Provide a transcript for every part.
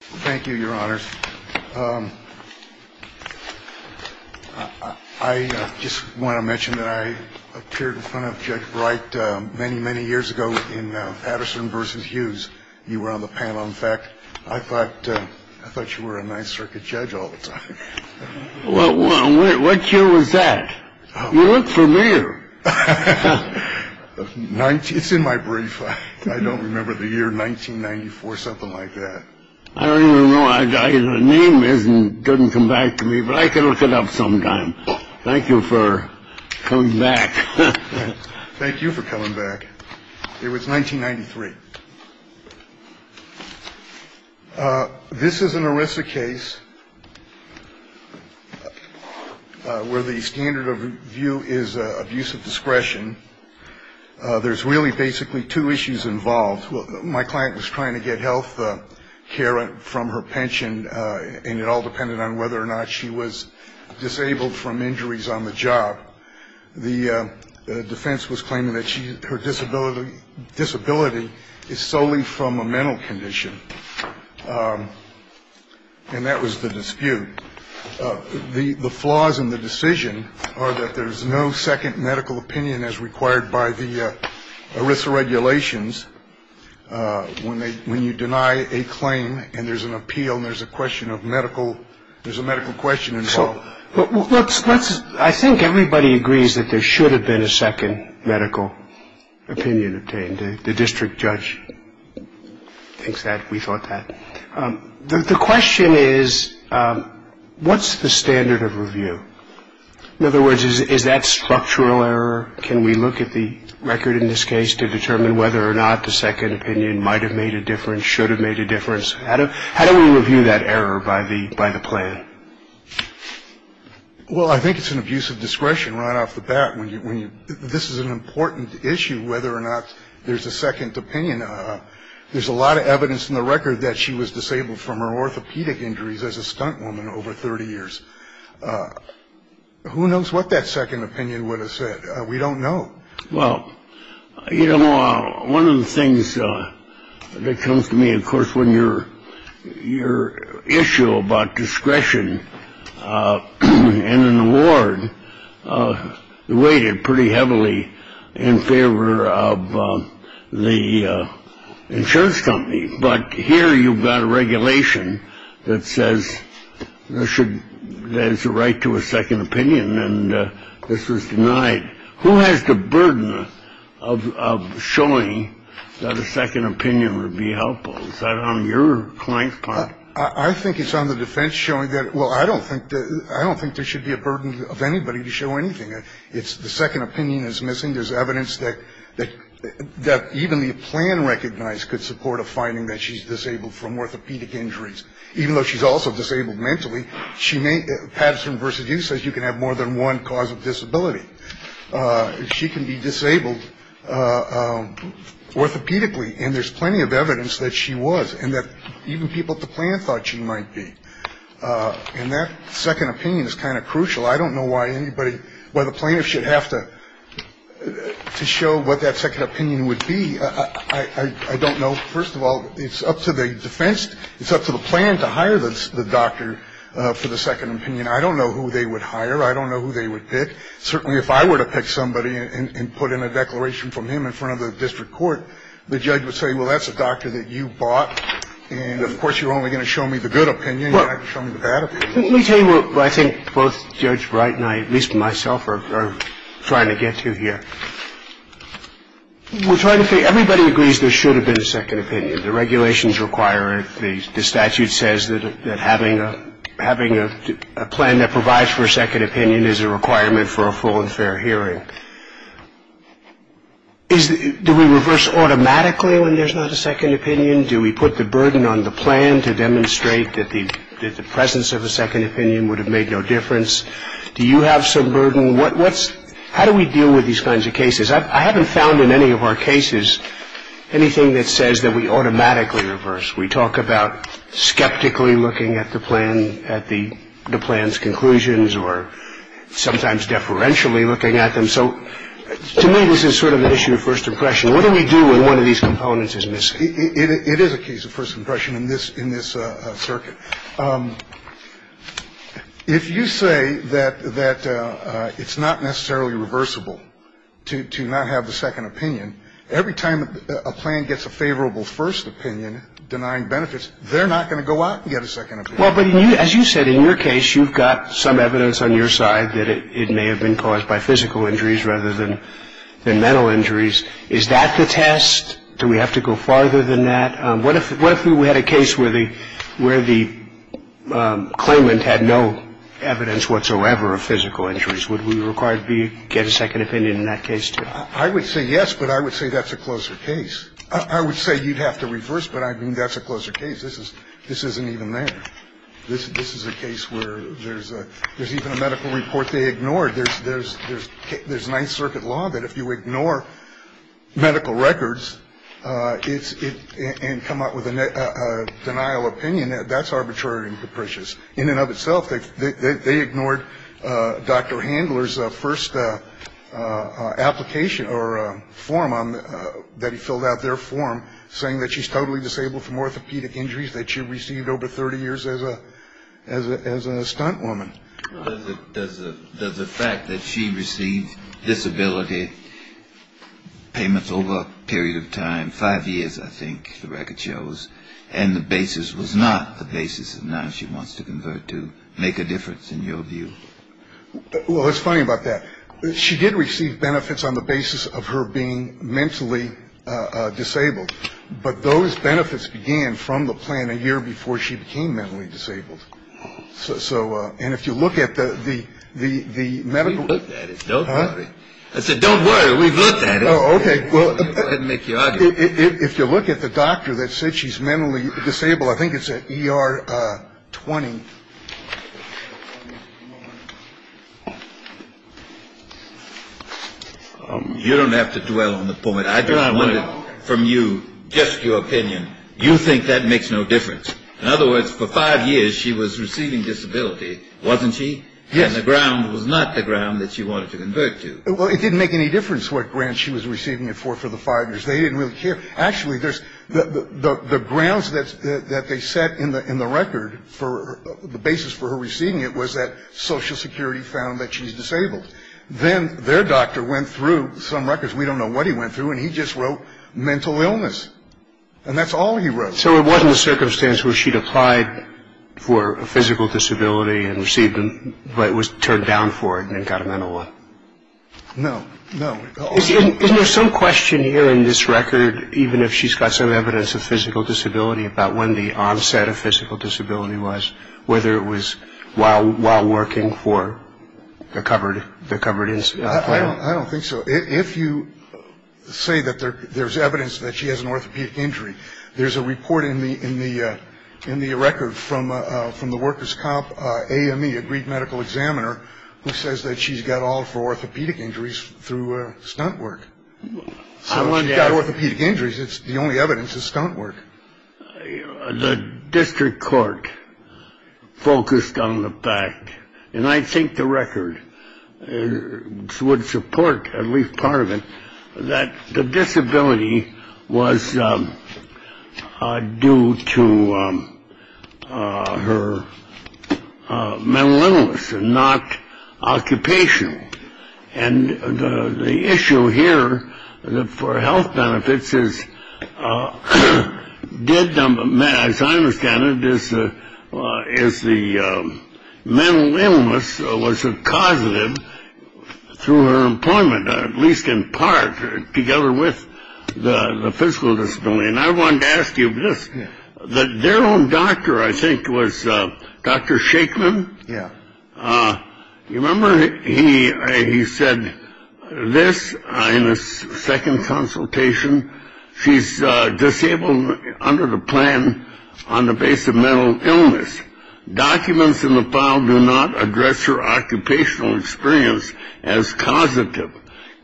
Thank you, Your Honors. I just want to mention that I appeared in front of Judge Bright many, many years ago in Patterson v. Hughes. You were on the panel. In fact, I thought you were a Ninth Circuit judge all the time. What year was that? You look familiar. Nineteen. It's in my brief. I don't remember the year. Nineteen ninety four, something like that. I don't even know. Name isn't didn't come back to me, but I can look it up sometime. Thank you for coming back. Thank you for coming back. It was 1993. This is an ERISA case where the standard of view is abuse of discretion. There's really basically two issues involved. My client was trying to get health care from her pension, and it all depended on whether or not she was disabled from injuries on the job. The defense was claiming that her disability disability is solely from a mental condition. And that was the dispute. The flaws in the decision are that there is no second medical opinion as required by the ERISA regulations. When they when you deny a claim and there's an appeal, there's a question of medical. There's a medical question. So let's let's. I think everybody agrees that there should have been a second medical opinion obtained. The district judge thinks that we thought that the question is, what's the standard of review? In other words, is that structural error? Can we look at the record in this case to determine whether or not the second opinion might have made a difference? Should have made a difference. How do we review that error by the by the plan? Well, I think it's an abuse of discretion right off the bat when you when you this is an important issue, whether or not there's a second opinion. There's a lot of evidence in the record that she was disabled from her orthopedic injuries as a stunt woman over 30 years. Who knows what that second opinion would have said? We don't know. Well, you know, one of the things that comes to me, of course, when you're you're issue about discretion and an award, the weighted pretty heavily in favor of the insurance company. But here you've got a regulation that says there should there's a right to a second opinion. And this was denied. Who has the burden of showing that a second opinion would be helpful? Is that on your client's part? I think it's on the defense showing that. Well, I don't think I don't think there should be a burden of anybody to show anything. It's the second opinion is missing. There's evidence that that that even the plan recognized could support a finding that she's disabled from orthopedic injuries. Even though she's also disabled mentally, she may have some versus you says you can have more than one cause of disability. She can be disabled orthopedically. And there's plenty of evidence that she was and that even people at the plant thought she might be in that second opinion is kind of crucial. I don't know why anybody by the plaintiff should have to show what that second opinion would be. I don't know. First of all, it's up to the defense. It's up to the plan to hire the doctor for the second opinion. I don't know who they would hire. I don't know who they would pick. Certainly, if I were to pick somebody and put in a declaration from him in front of the district court, the judge would say, well, that's a doctor that you bought. And of course, you're only going to show me the good opinion. Let me tell you what I think both Judge Wright and I, at least myself, are trying to get to here. We're trying to say everybody agrees there should have been a second opinion. The regulations require it. The statute says that having a plan that provides for a second opinion is a requirement for a full and fair hearing. Do we reverse automatically when there's not a second opinion? Do we put the burden on the plan to demonstrate that the presence of a second opinion would have made no difference? Do you have some burden? How do we deal with these kinds of cases? I haven't found in any of our cases anything that says that we automatically reverse. We talk about skeptically looking at the plan, at the plan's conclusions, or sometimes deferentially looking at them. So to me, this is sort of an issue of first impression. What do we do when one of these components is missing? It is a case of first impression in this circuit. If you say that it's not necessarily reversible to not have a second opinion, every time a plan gets a favorable first opinion denying benefits, they're not going to go out and get a second opinion. Well, but as you said, in your case, you've got some evidence on your side that it may have been caused by physical injuries rather than mental injuries. Is that the test? Do we have to go farther than that? What if we had a case where the claimant had no evidence whatsoever of physical injuries? Would we require to get a second opinion in that case, too? I would say yes, but I would say that's a closer case. I would say you'd have to reverse, but I mean, that's a closer case. This isn't even there. This is a case where there's even a medical report they ignored. There's Ninth Circuit law that if you ignore medical records and come up with a denial opinion, that's arbitrary and capricious. In and of itself, they ignored Dr. Handler's first application or form that he filled out their form, saying that she's totally disabled from orthopedic injuries, that she received over 30 years as a stunt woman. Does the fact that she received disability payments over a period of time, five years, I think the record shows, and the basis was not the basis of now she wants to convert to make a difference in your view? Well, it's funny about that. She did receive benefits on the basis of her being mentally disabled, but those benefits began from the plan a year before she became mentally disabled. So. And if you look at the medical. Don't worry. I said, don't worry. We've looked at it. OK. Well, I didn't make you. If you look at the doctor that said she's mentally disabled, I think it's a year 20. You don't have to dwell on the point. I don't want it from you. Just your opinion. You think that makes no difference. In other words, for five years she was receiving disability, wasn't she? Yes. And the ground was not the ground that she wanted to convert to. Well, it didn't make any difference what grant she was receiving it for for the five years. They didn't really care. Actually, there's the grounds that they set in the record for the basis for her receiving it was that Social Security found that she's disabled. Then their doctor went through some records. We don't know what he went through. And he just wrote mental illness. And that's all he wrote. So it wasn't a circumstance where she'd applied for a physical disability and received them, but was turned down for it and got a mental one. No, no. Isn't there some question here in this record, even if she's got some evidence of physical disability, about when the onset of physical disability was, whether it was while while working for the covered the covered in. I don't think so. If you say that there's evidence that she has an orthopedic injury, there's a report in the in the in the record from from the workers cop. A.M.E. agreed medical examiner who says that she's got all four orthopedic injuries through stunt work. She's got orthopedic injuries. It's the only evidence is stunt work. The district court focused on the fact, and I think the record would support at least part of it, that the disability was due to her mental illness and not occupation. And the issue here for health benefits is dead number. As I understand it, this is the mental illness was a positive through her employment, at least in part together with the physical disability. And I want to ask you this, that their own doctor, I think, was Dr. Shakeman. Yeah. You remember he he said this in his second consultation. She's disabled under the plan on the base of mental illness. Documents in the file do not address her occupational experience as causative.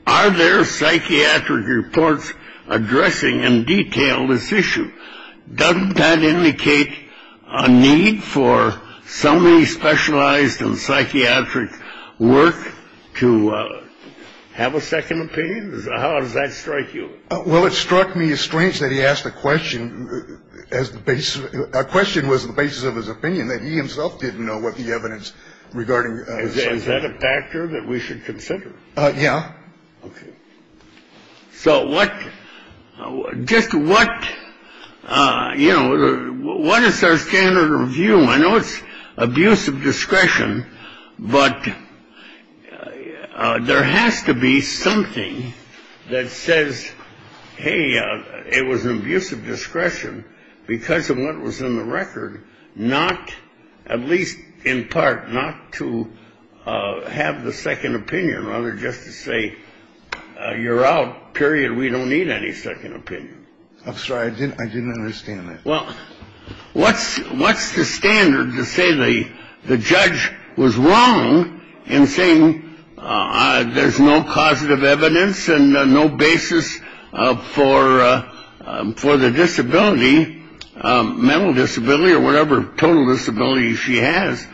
Are there psychiatric reports addressing in detail this issue? Doesn't that indicate a need for somebody specialized in psychiatric work to have a second opinion? How does that strike you? Well, it struck me as strange that he asked the question as the base. A question was the basis of his opinion that he himself didn't know what the evidence regarding that a factor that we should consider. Yeah. OK. So what just what you know, what is our standard of view? I know it's abuse of discretion, but there has to be something that says, hey, it was an abuse of discretion because of what was in the record. Not at least in part not to have the second opinion, rather just to say you're out, period. We don't need any second opinion. I'm sorry. I didn't I didn't understand that. Well, what's what's the standard to say the the judge was wrong in saying there's no causative evidence and no basis for for the disability. Mental disability or whatever total disability she has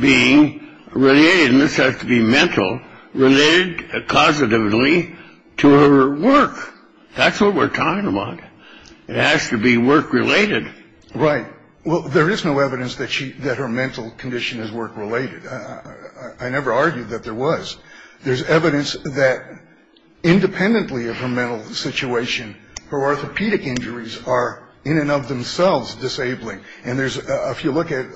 being related in this has to be mental related causatively to her work. That's what we're talking about. It has to be work related, right? Well, there is no evidence that she that her mental condition is work related. I never argued that there was. There's evidence that independently of her mental situation, her orthopedic injuries are in and of themselves disabling. And there's if you look at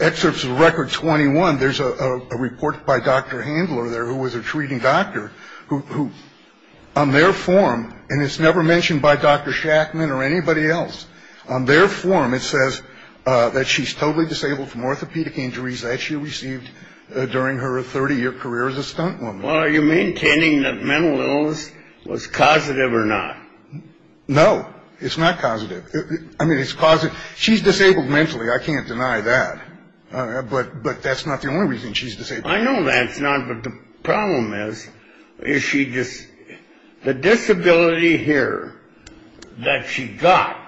excerpts of record 21, there's a report by Dr. Handler there who was a treating doctor who on their form. And it's never mentioned by Dr. Shackman or anybody else on their form. It says that she's totally disabled from orthopedic injuries that she received during her 30 year career as a stunt woman. Are you maintaining that mental illness was causative or not? No, it's not causative. I mean, it's positive. She's disabled mentally. I can't deny that. But but that's not the only reason she's disabled. I know that's not. But the problem is, is she just the disability here that she got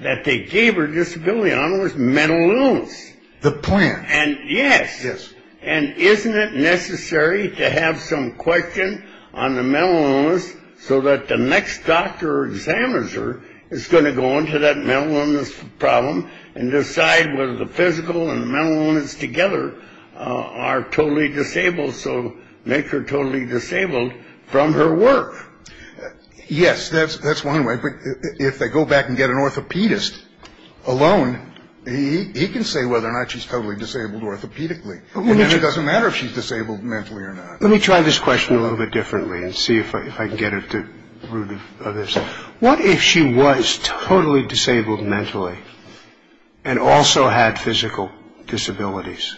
that they gave her disability on was mental illness. The plan. And yes. Yes. And isn't it necessary to have some question on the mental illness so that the next doctor examines her is going to go into that mental illness problem and decide whether the physical and mental illness together are totally disabled. So make her totally disabled from her work. Yes, that's that's one way. If they go back and get an orthopedist alone, he can say whether or not she's totally disabled orthopedically. It doesn't matter if she's disabled mentally or not. Let me try this question a little bit differently and see if I can get it through this. What if she was totally disabled mentally and also had physical disabilities?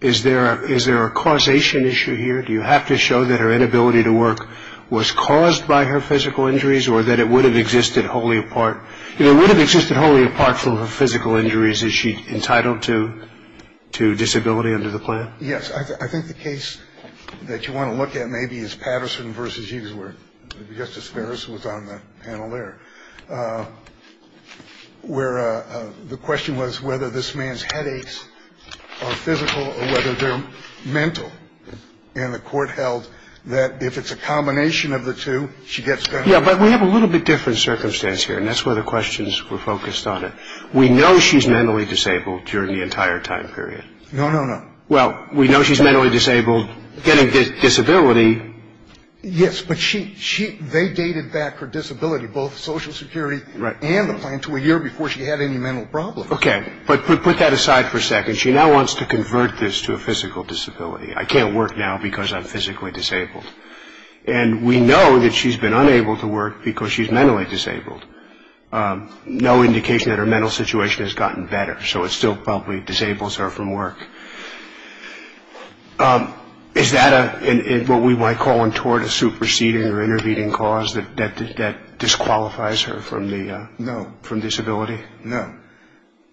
Is there is there a causation issue here? Do you have to show that her inability to work was caused by her physical injuries or that it would have existed wholly apart? It would have existed wholly apart from her physical injuries. Is she entitled to to disability under the plan? Yes. I think the case that you want to look at maybe is Patterson versus Hughesworth. Justice Ferris was on the panel there where the question was whether this man's headaches are physical or whether they're mental. And the court held that if it's a combination of the two, she gets. Yeah, but we have a little bit different circumstance here. And that's where the questions were focused on it. We know she's mentally disabled during the entire time period. No, no, no. Well, we know she's mentally disabled getting disability. Yes. But she she they dated back her disability, both Social Security and the plan to a year before she had any mental problem. OK. But put that aside for a second. She now wants to convert this to a physical disability. I can't work now because I'm physically disabled. And we know that she's been unable to work because she's mentally disabled. No indication that her mental situation has gotten better. So it's still probably disables her from work. Is that what we might call in toward a superseding or intervening cause that that disqualifies her from the no from disability? No,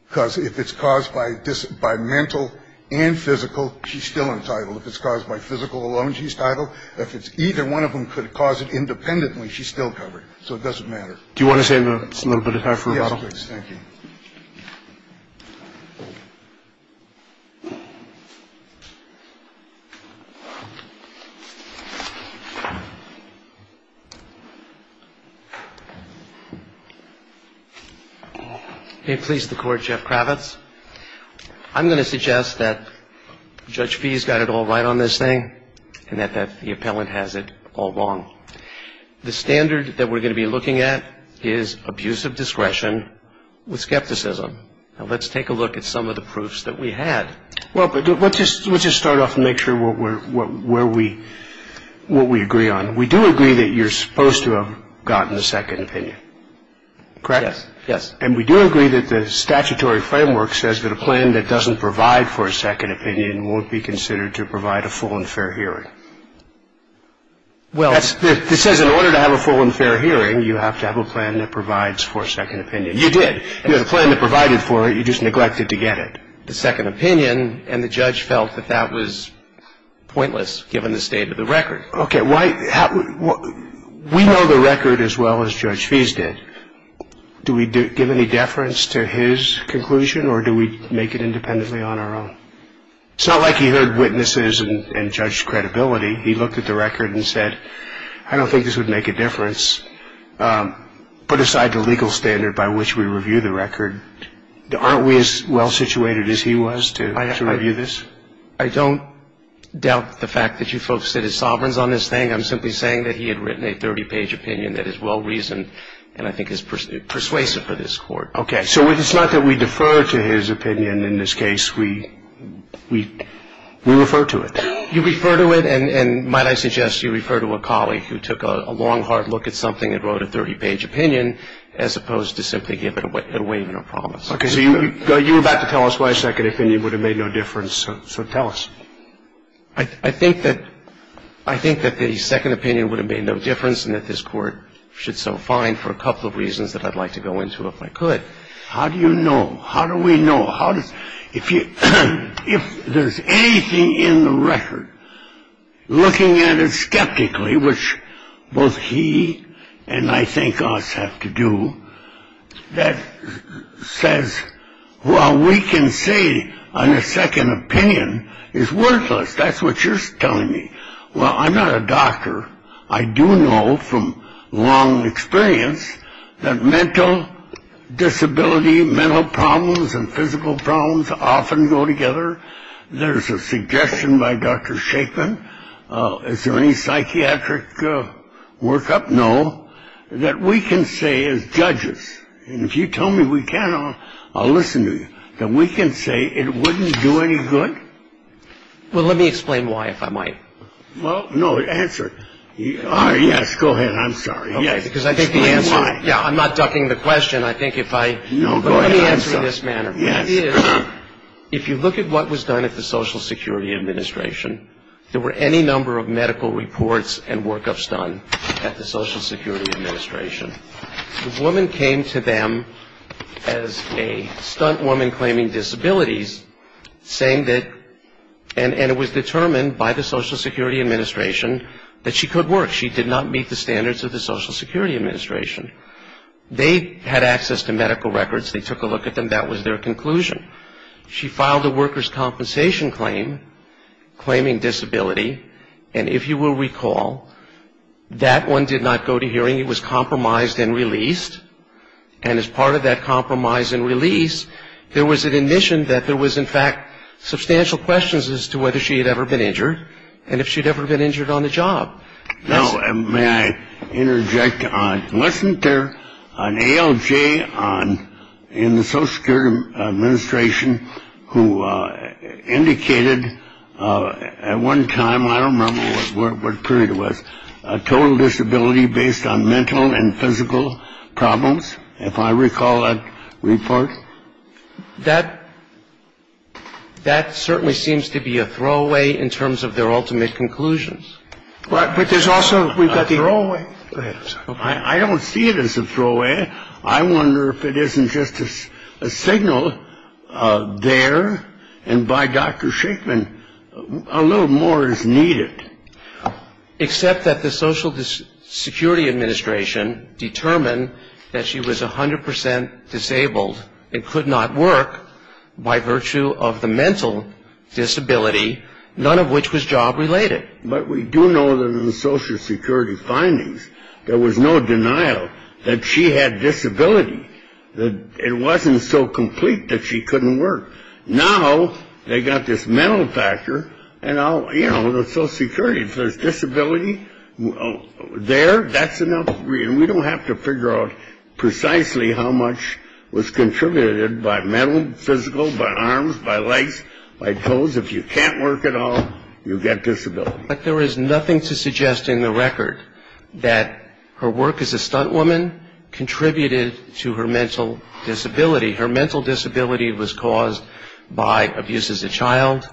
because if it's caused by this by mental and physical, she's still entitled. If it's caused by physical alone, she's titled. If it's either one of them could cause it independently. She's still covered. So it doesn't matter. Do you want to say it's a little bit hard for you? Thank you. It pleased the court. Jeff Kravitz. I'm going to suggest that Judge fees got it all right on this thing and that the appellant has it all wrong. The standard that we're going to be looking at is abusive discretion with skepticism. Now, let's take a look at some of the proofs that we had. Well, but let's just let's just start off and make sure we're where we what we agree on. We do agree that you're supposed to have gotten a second opinion. Correct. Yes. And we do agree that the statutory framework says that a plan that doesn't provide for a second opinion won't be considered to provide a full and fair hearing. Well, this is in order to have a full and fair hearing. You have to have a plan that provides for a second opinion. You did. You have a plan that provided for it. You just neglected to get it. The second opinion and the judge felt that that was pointless, given the state of the record. OK, why? We know the record as well as Judge fees did. Do we give any deference to his conclusion or do we make it independently on our own? It's not like he heard witnesses and judged credibility. He looked at the record and said, I don't think this would make a difference. Put aside the legal standard by which we review the record. Aren't we as well situated as he was to review this? I don't doubt the fact that you folks said his sovereigns on this thing. I'm simply saying that he had written a 30 page opinion that is well reasoned and I think is persuasive for this court. OK, so it's not that we defer to his opinion in this case. We we we refer to it. You refer to it. And might I suggest you refer to a colleague who took a long, hard look at something and wrote a 30 page opinion as opposed to simply give it away. No problem. Because you were about to tell us why a second opinion would have made no difference. So tell us. I think that I think that the second opinion would have made no difference and that this court should so fine for a couple of reasons that I'd like to go into if I could. How do you know? How do we know? How does it feel if there's anything in the record looking at it skeptically, which both he and I think us have to do that says, well, we can say on a second opinion is worthless. That's what you're telling me. Well, I'm not a doctor. I do know from long experience that mental disability, mental problems and physical problems often go together. There's a suggestion by Dr. Chapin. Is there any psychiatric workup? No, that we can say as judges. And if you tell me we can listen to you, then we can say it wouldn't do any good. Well, let me explain why, if I might. Well, no answer. Yes. Go ahead. I'm sorry. Yes, because I think the answer. Yeah, I'm not ducking the question. I think if I know this manner. Yes. If you look at what was done at the Social Security Administration, there were any number of medical reports and workups done at the Social Security Administration. The woman came to them as a stunt woman claiming disabilities, saying that. And it was determined by the Social Security Administration that she could work. She did not meet the standards of the Social Security Administration. They had access to medical records. They took a look at them. That was their conclusion. She filed a worker's compensation claim, claiming disability. And if you will recall, that one did not go to hearing. It was compromised and released. And as part of that compromise and release, there was an admission that there was, in fact, substantial questions as to whether she had ever been injured. And if she'd ever been injured on the job. Now, may I interject on wasn't there an ALJ on in the Social Security Administration who indicated at one time. I don't remember what period it was. Total disability based on mental and physical problems. If I recall that report that that certainly seems to be a throwaway in terms of their ultimate conclusions. Right. But there's also we've got the wrong way. I don't see it as a throwaway. I wonder if it isn't just a signal there. And by Dr. Shachman, a little more is needed. Except that the Social Security Administration determined that she was 100 percent disabled and could not work by virtue of the mental disability, none of which was job related. But we do know that in the Social Security findings, there was no denial that she had disability. It wasn't so complete that she couldn't work. Now they got this mental factor. And, you know, the Social Security disability there, that's enough. We don't have to figure out precisely how much was contributed by mental, physical, by arms, by legs, by toes. If you can't work at all, you get disability. But there is nothing to suggest in the record that her work as a stunt woman contributed to her mental disability. Her mental disability was caused by abuse as a child,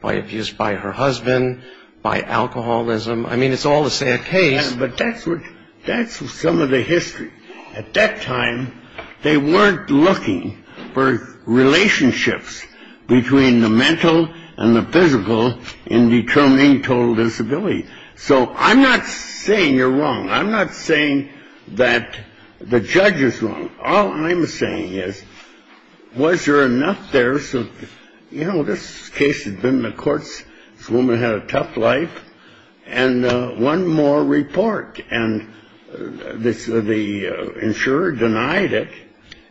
by abuse by her husband, by alcoholism. I mean, it's all a sad case. But that's what that's some of the history. At that time, they weren't looking for relationships between the mental and the physical in determining total disability. So I'm not saying you're wrong. I'm not saying that the judge is wrong. All I'm saying is, was there enough there? So, you know, this case has been in the courts. This woman had a tough life. And one more report, and the insurer denied it.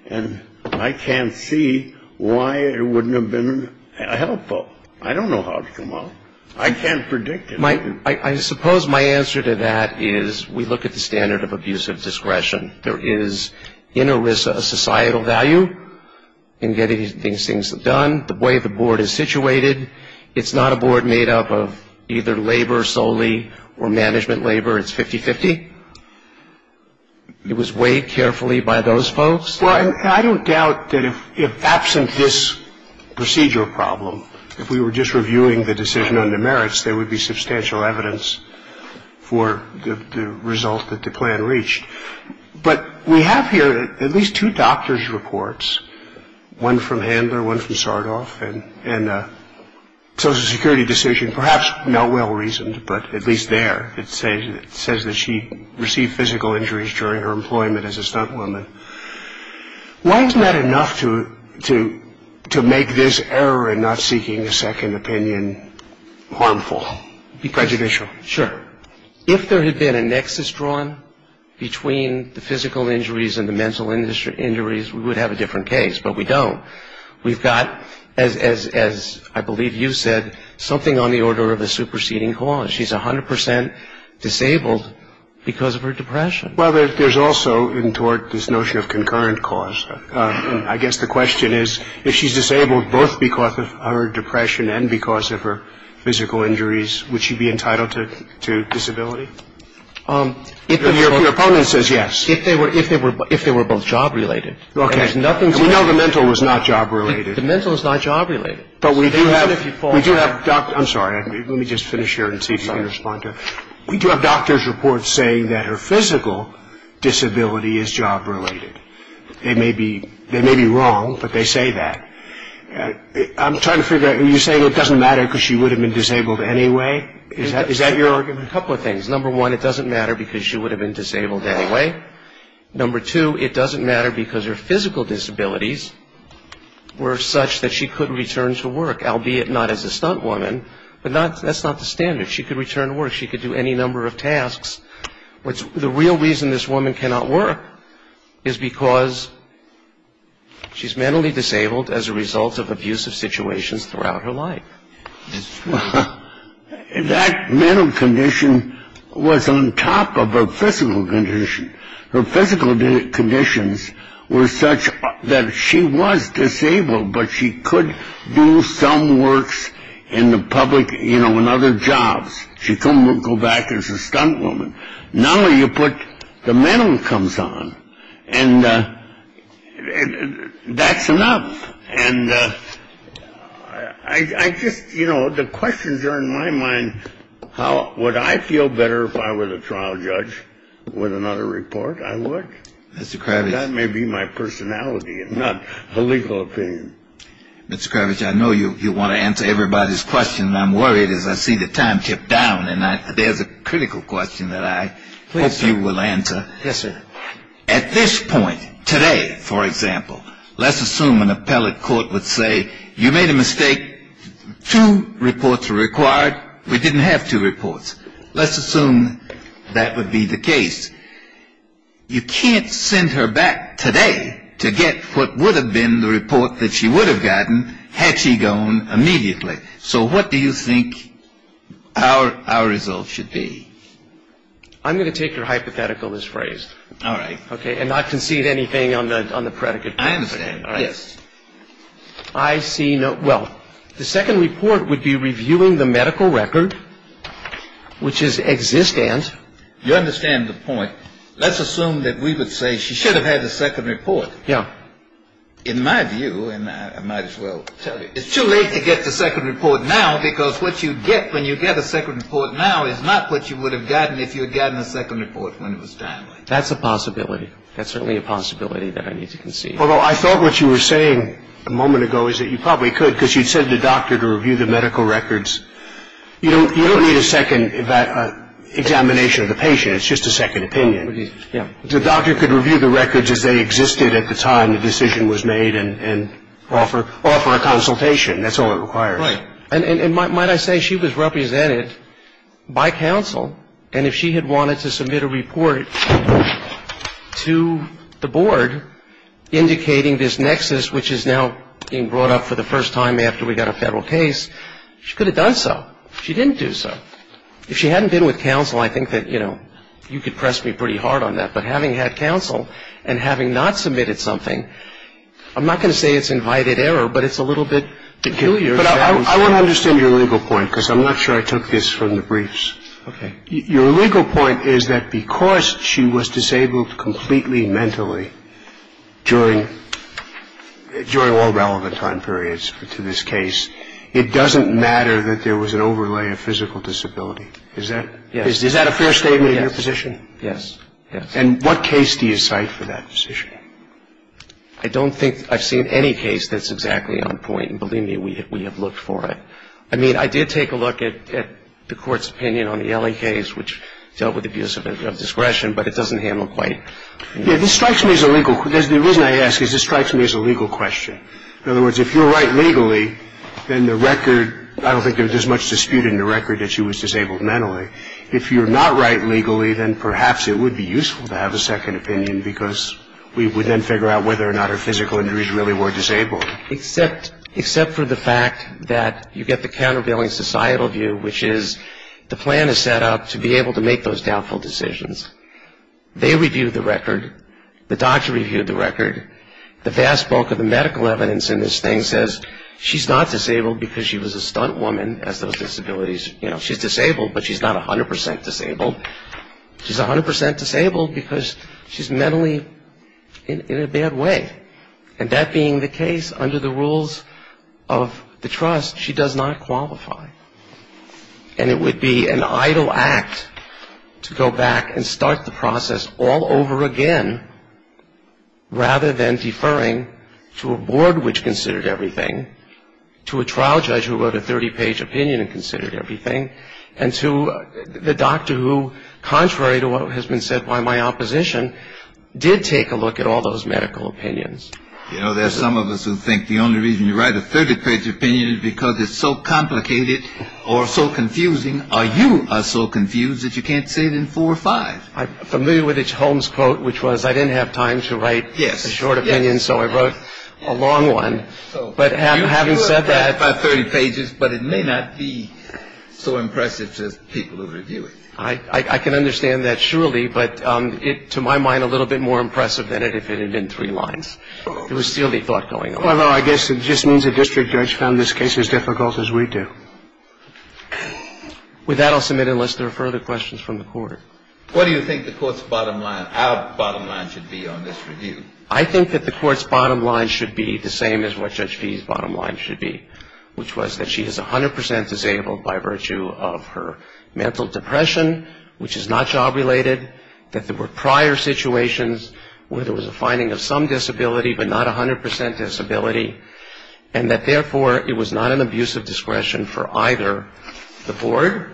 And I can't see why it wouldn't have been helpful. I don't know how it came out. I can't predict it. I suppose my answer to that is we look at the standard of abuse of discretion. There is, in ERISA, a societal value in getting things done. The way the board is situated, it's not a board made up of either labor solely or management labor. It's 50-50. It was weighed carefully by those folks. Well, I don't doubt that if absent this procedure problem, if we were just reviewing the decision on the merits, there would be substantial evidence for the result that the plan reached. But we have here at least two doctor's reports, one from Handler, one from Sardoff, and a Social Security decision, perhaps Melwell reasoned, but at least there, it says that she received physical injuries during her employment as a stuntwoman. Why isn't that enough to make this error in not seeking a second opinion harmful, prejudicial? Sure. If there had been a nexus drawn between the physical injuries and the mental injuries, we would have a different case, but we don't. We've got, as I believe you said, something on the order of a superseding cause. She's 100 percent disabled because of her depression. Well, there's also in tort this notion of concurrent cause. I guess the question is if she's disabled both because of her depression and because of her physical injuries, would she be entitled to disability? Your opponent says yes. If they were both job-related. Okay. And there's nothing to it. And we know the mental was not job-related. The mental is not job-related. But we do have doctors. I'm sorry. Let me just finish here and see if you can respond to it. We do have doctor's reports saying that her physical disability is job-related. They may be wrong, but they say that. I'm trying to figure out, are you saying it doesn't matter because she would have been disabled anyway? Is that your argument? A couple of things. Number one, it doesn't matter because she would have been disabled anyway. Number two, it doesn't matter because her physical disabilities were such that she could return to work, albeit not as a stunt woman, but that's not the standard. She could do any number of tasks. The real reason this woman cannot work is because she's mentally disabled as a result of abusive situations throughout her life. That mental condition was on top of her physical condition. Her physical conditions were such that she was disabled, but she could do some works in the public, you know, in other jobs. She couldn't go back as a stunt woman. Now you put the mental comes on, and that's enough. And I just, you know, the questions are in my mind, would I feel better if I were the trial judge with another report? I would. Mr. Kravitz. That may be my personality and not a legal opinion. Mr. Kravitz, I know you want to answer everybody's question. I'm worried as I see the time tip down, and there's a critical question that I hope you will answer. Yes, sir. At this point today, for example, let's assume an appellate court would say you made a mistake. Two reports were required. We didn't have two reports. Let's assume that would be the case. You can't send her back today to get what would have been the report that she would have gotten had she gone immediately. So what do you think our results should be? I'm going to take your hypothetical as phrased. All right. Okay, and not concede anything on the predicate. I understand. All right. Yes. I see no – well, the second report would be reviewing the medical record, which is existent. You understand the point. Let's assume that we would say she should have had the second report. Yeah. In my view, and I might as well tell you, it's too late to get the second report now because what you get when you get a second report now is not what you would have gotten if you had gotten a second report when it was timely. That's a possibility. That's certainly a possibility that I need to concede. Although I thought what you were saying a moment ago is that you probably could because you'd send the doctor to review the medical records. You don't need a second examination of the patient. It's just a second opinion. Yeah. The doctor could review the records as they existed at the time the decision was made and offer a consultation. That's all it requires. Right. And might I say she was represented by counsel, and if she had wanted to submit a report to the board indicating this nexus, which is now being brought up for the first time after we got a federal case, she could have done so. She didn't do so. If she hadn't been with counsel, I think that, you know, you could press me pretty hard on that. But having had counsel and having not submitted something, I'm not going to say it's invited error, but it's a little bit peculiar. But I want to understand your legal point because I'm not sure I took this from the briefs. Okay. Your legal point is that because she was disabled completely mentally during all relevant time periods to this case, it doesn't matter that there was an overlay of physical disability. Is that? Yes. Is that a fair statement in your position? Yes. Yes. And what case do you cite for that position? I don't think I've seen any case that's exactly on point, and believe me, we have looked for it. I mean, I did take a look at the Court's opinion on the Ellie case, which dealt with abuse of discretion, but it doesn't handle quite. Yeah, this strikes me as a legal question. The reason I ask is this strikes me as a legal question. In other words, if you're right legally, then the record, I don't think there's much dispute in the record that she was disabled mentally. If you're not right legally, then perhaps it would be useful to have a second opinion because we would then figure out whether or not her physical injuries really were disabled. Except for the fact that you get the countervailing societal view, which is the plan is set up to be able to make those doubtful decisions. They reviewed the record. The doctor reviewed the record. The vast bulk of the medical evidence in this thing says she's not disabled because she was a stunt woman, as those disabilities, you know. She's not 100 percent disabled. She's 100 percent disabled because she's mentally in a bad way. And that being the case, under the rules of the trust, she does not qualify. And it would be an idle act to go back and start the process all over again, rather than deferring to a board which considered everything, to a trial judge who wrote a 30-page opinion and considered everything, and to the doctor who, contrary to what has been said by my opposition, did take a look at all those medical opinions. You know, there are some of us who think the only reason you write a 30-page opinion is because it's so complicated or so confusing, or you are so confused that you can't say it in four or five. I'm familiar with Holmes' quote, which was, I didn't have time to write a short opinion, so I wrote a long one. But having said that ---- But it may not be so impressive to people who review it. I can understand that, surely, but to my mind, a little bit more impressive than it if it had been three lines. There would still be thought going on. Well, no, I guess it just means the district judge found this case as difficult as we do. With that, I'll submit unless there are further questions from the Court. What do you think the Court's bottom line, our bottom line, should be on this review? I think that the Court's bottom line should be the same as what Judge Fee's bottom line should be, which was that she is 100 percent disabled by virtue of her mental depression, which is not job-related, that there were prior situations where there was a finding of some disability but not 100 percent disability, and that, therefore, it was not an abuse of discretion for either the Board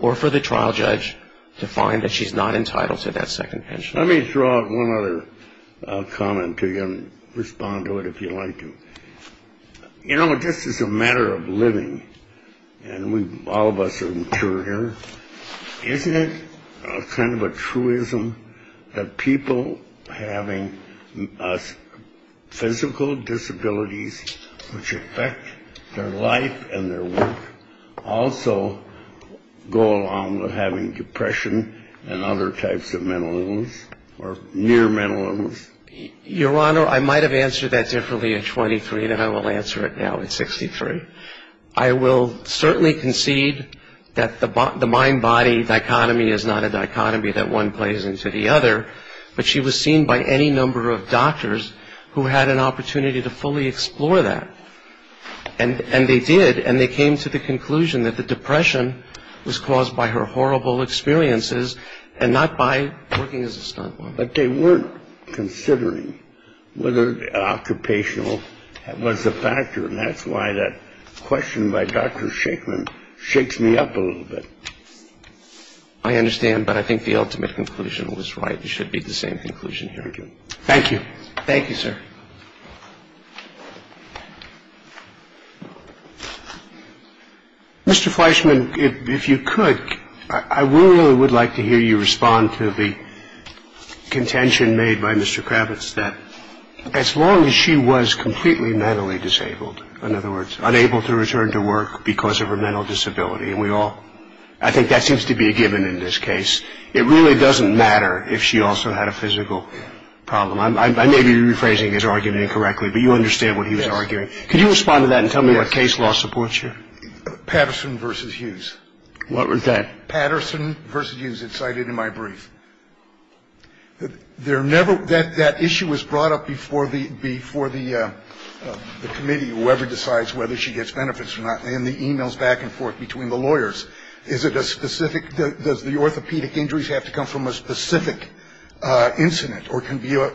or for the trial judge to find that she's not entitled to that second pension. Let me throw out one other comment to you and respond to it if you'd like to. You know, this is a matter of living, and all of us are mature here. Isn't it kind of a truism that people having physical disabilities which affect their life and their work also go along with having depression and other types of mental illness or near mental illness? Your Honor, I might have answered that differently at 23 than I will answer it now at 63. I will certainly concede that the mind-body dichotomy is not a dichotomy that one plays into the other, but she was seen by any number of doctors who had an opportunity to fully explore that. And they did, and they came to the conclusion that the depression was caused by her horrible experiences and not by working as a stuntwoman. But they weren't considering whether occupational was a factor, and that's why that question by Dr. Shachman shakes me up a little bit. I understand, but I think the ultimate conclusion was right. It should be the same conclusion here. Thank you. Thank you, sir. Mr. Fleischman, if you could, I really would like to hear you respond to the contention made by Mr. Kravitz that as long as she was completely mentally disabled, in other words, unable to return to work because of her mental disability, and we all – I think that seems to be a given in this case. It really doesn't matter if she also had a physical problem. I may be rephrasing his argument incorrectly, but you understand what he was arguing. Could you respond to that and tell me what case law supports you? Patterson v. Hughes. What was that? Patterson v. Hughes, it's cited in my brief. That issue was brought up before the committee, whoever decides whether she gets benefits or not, in the e-mails back and forth between the lawyers. I think the question is, is it a specific – does the orthopedic injuries have to come from a specific incident or can be a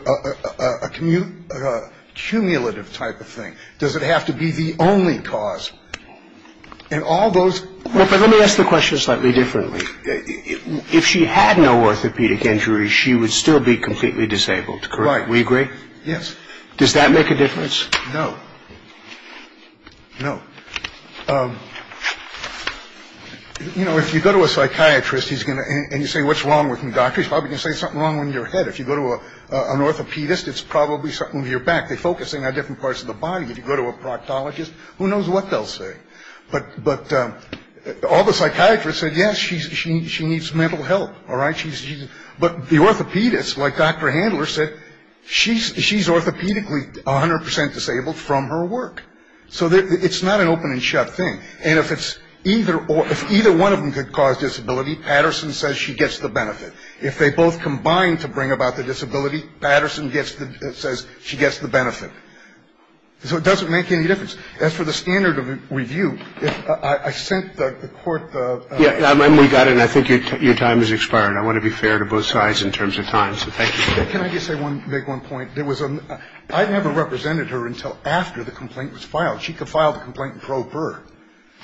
cumulative type of thing? Does it have to be the only cause? And all those – Let me ask the question slightly differently. If she had no orthopedic injuries, she would still be completely disabled, correct? Right. We agree? Yes. Does that make a difference? No. No. You know, if you go to a psychiatrist, he's going to – and you say, what's wrong with him, doctor? He's probably going to say something wrong with your head. If you go to an orthopedist, it's probably something with your back. They focus in on different parts of the body. If you go to a proctologist, who knows what they'll say. But all the psychiatrists said, yes, she needs mental health, all right? But the orthopedist, like Dr. Handler said, she's orthopedically 100 percent disabled from her work. So it's not an open and shut thing. And if either one of them could cause disability, Patterson says she gets the benefit. If they both combine to bring about the disability, Patterson says she gets the benefit. So it doesn't make any difference. As for the standard of review, I sent the court the – We got in. I think your time has expired. I want to be fair to both sides in terms of time. So thank you. Can I just make one point? There was a – I never represented her until after the complaint was filed. She could file the complaint and probe her.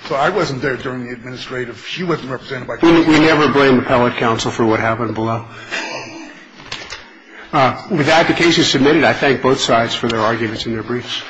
So I wasn't there during the administrative. She wasn't represented. We never blame the appellate counsel for what happened below. With the application submitted, I thank both sides for their arguments and their briefs.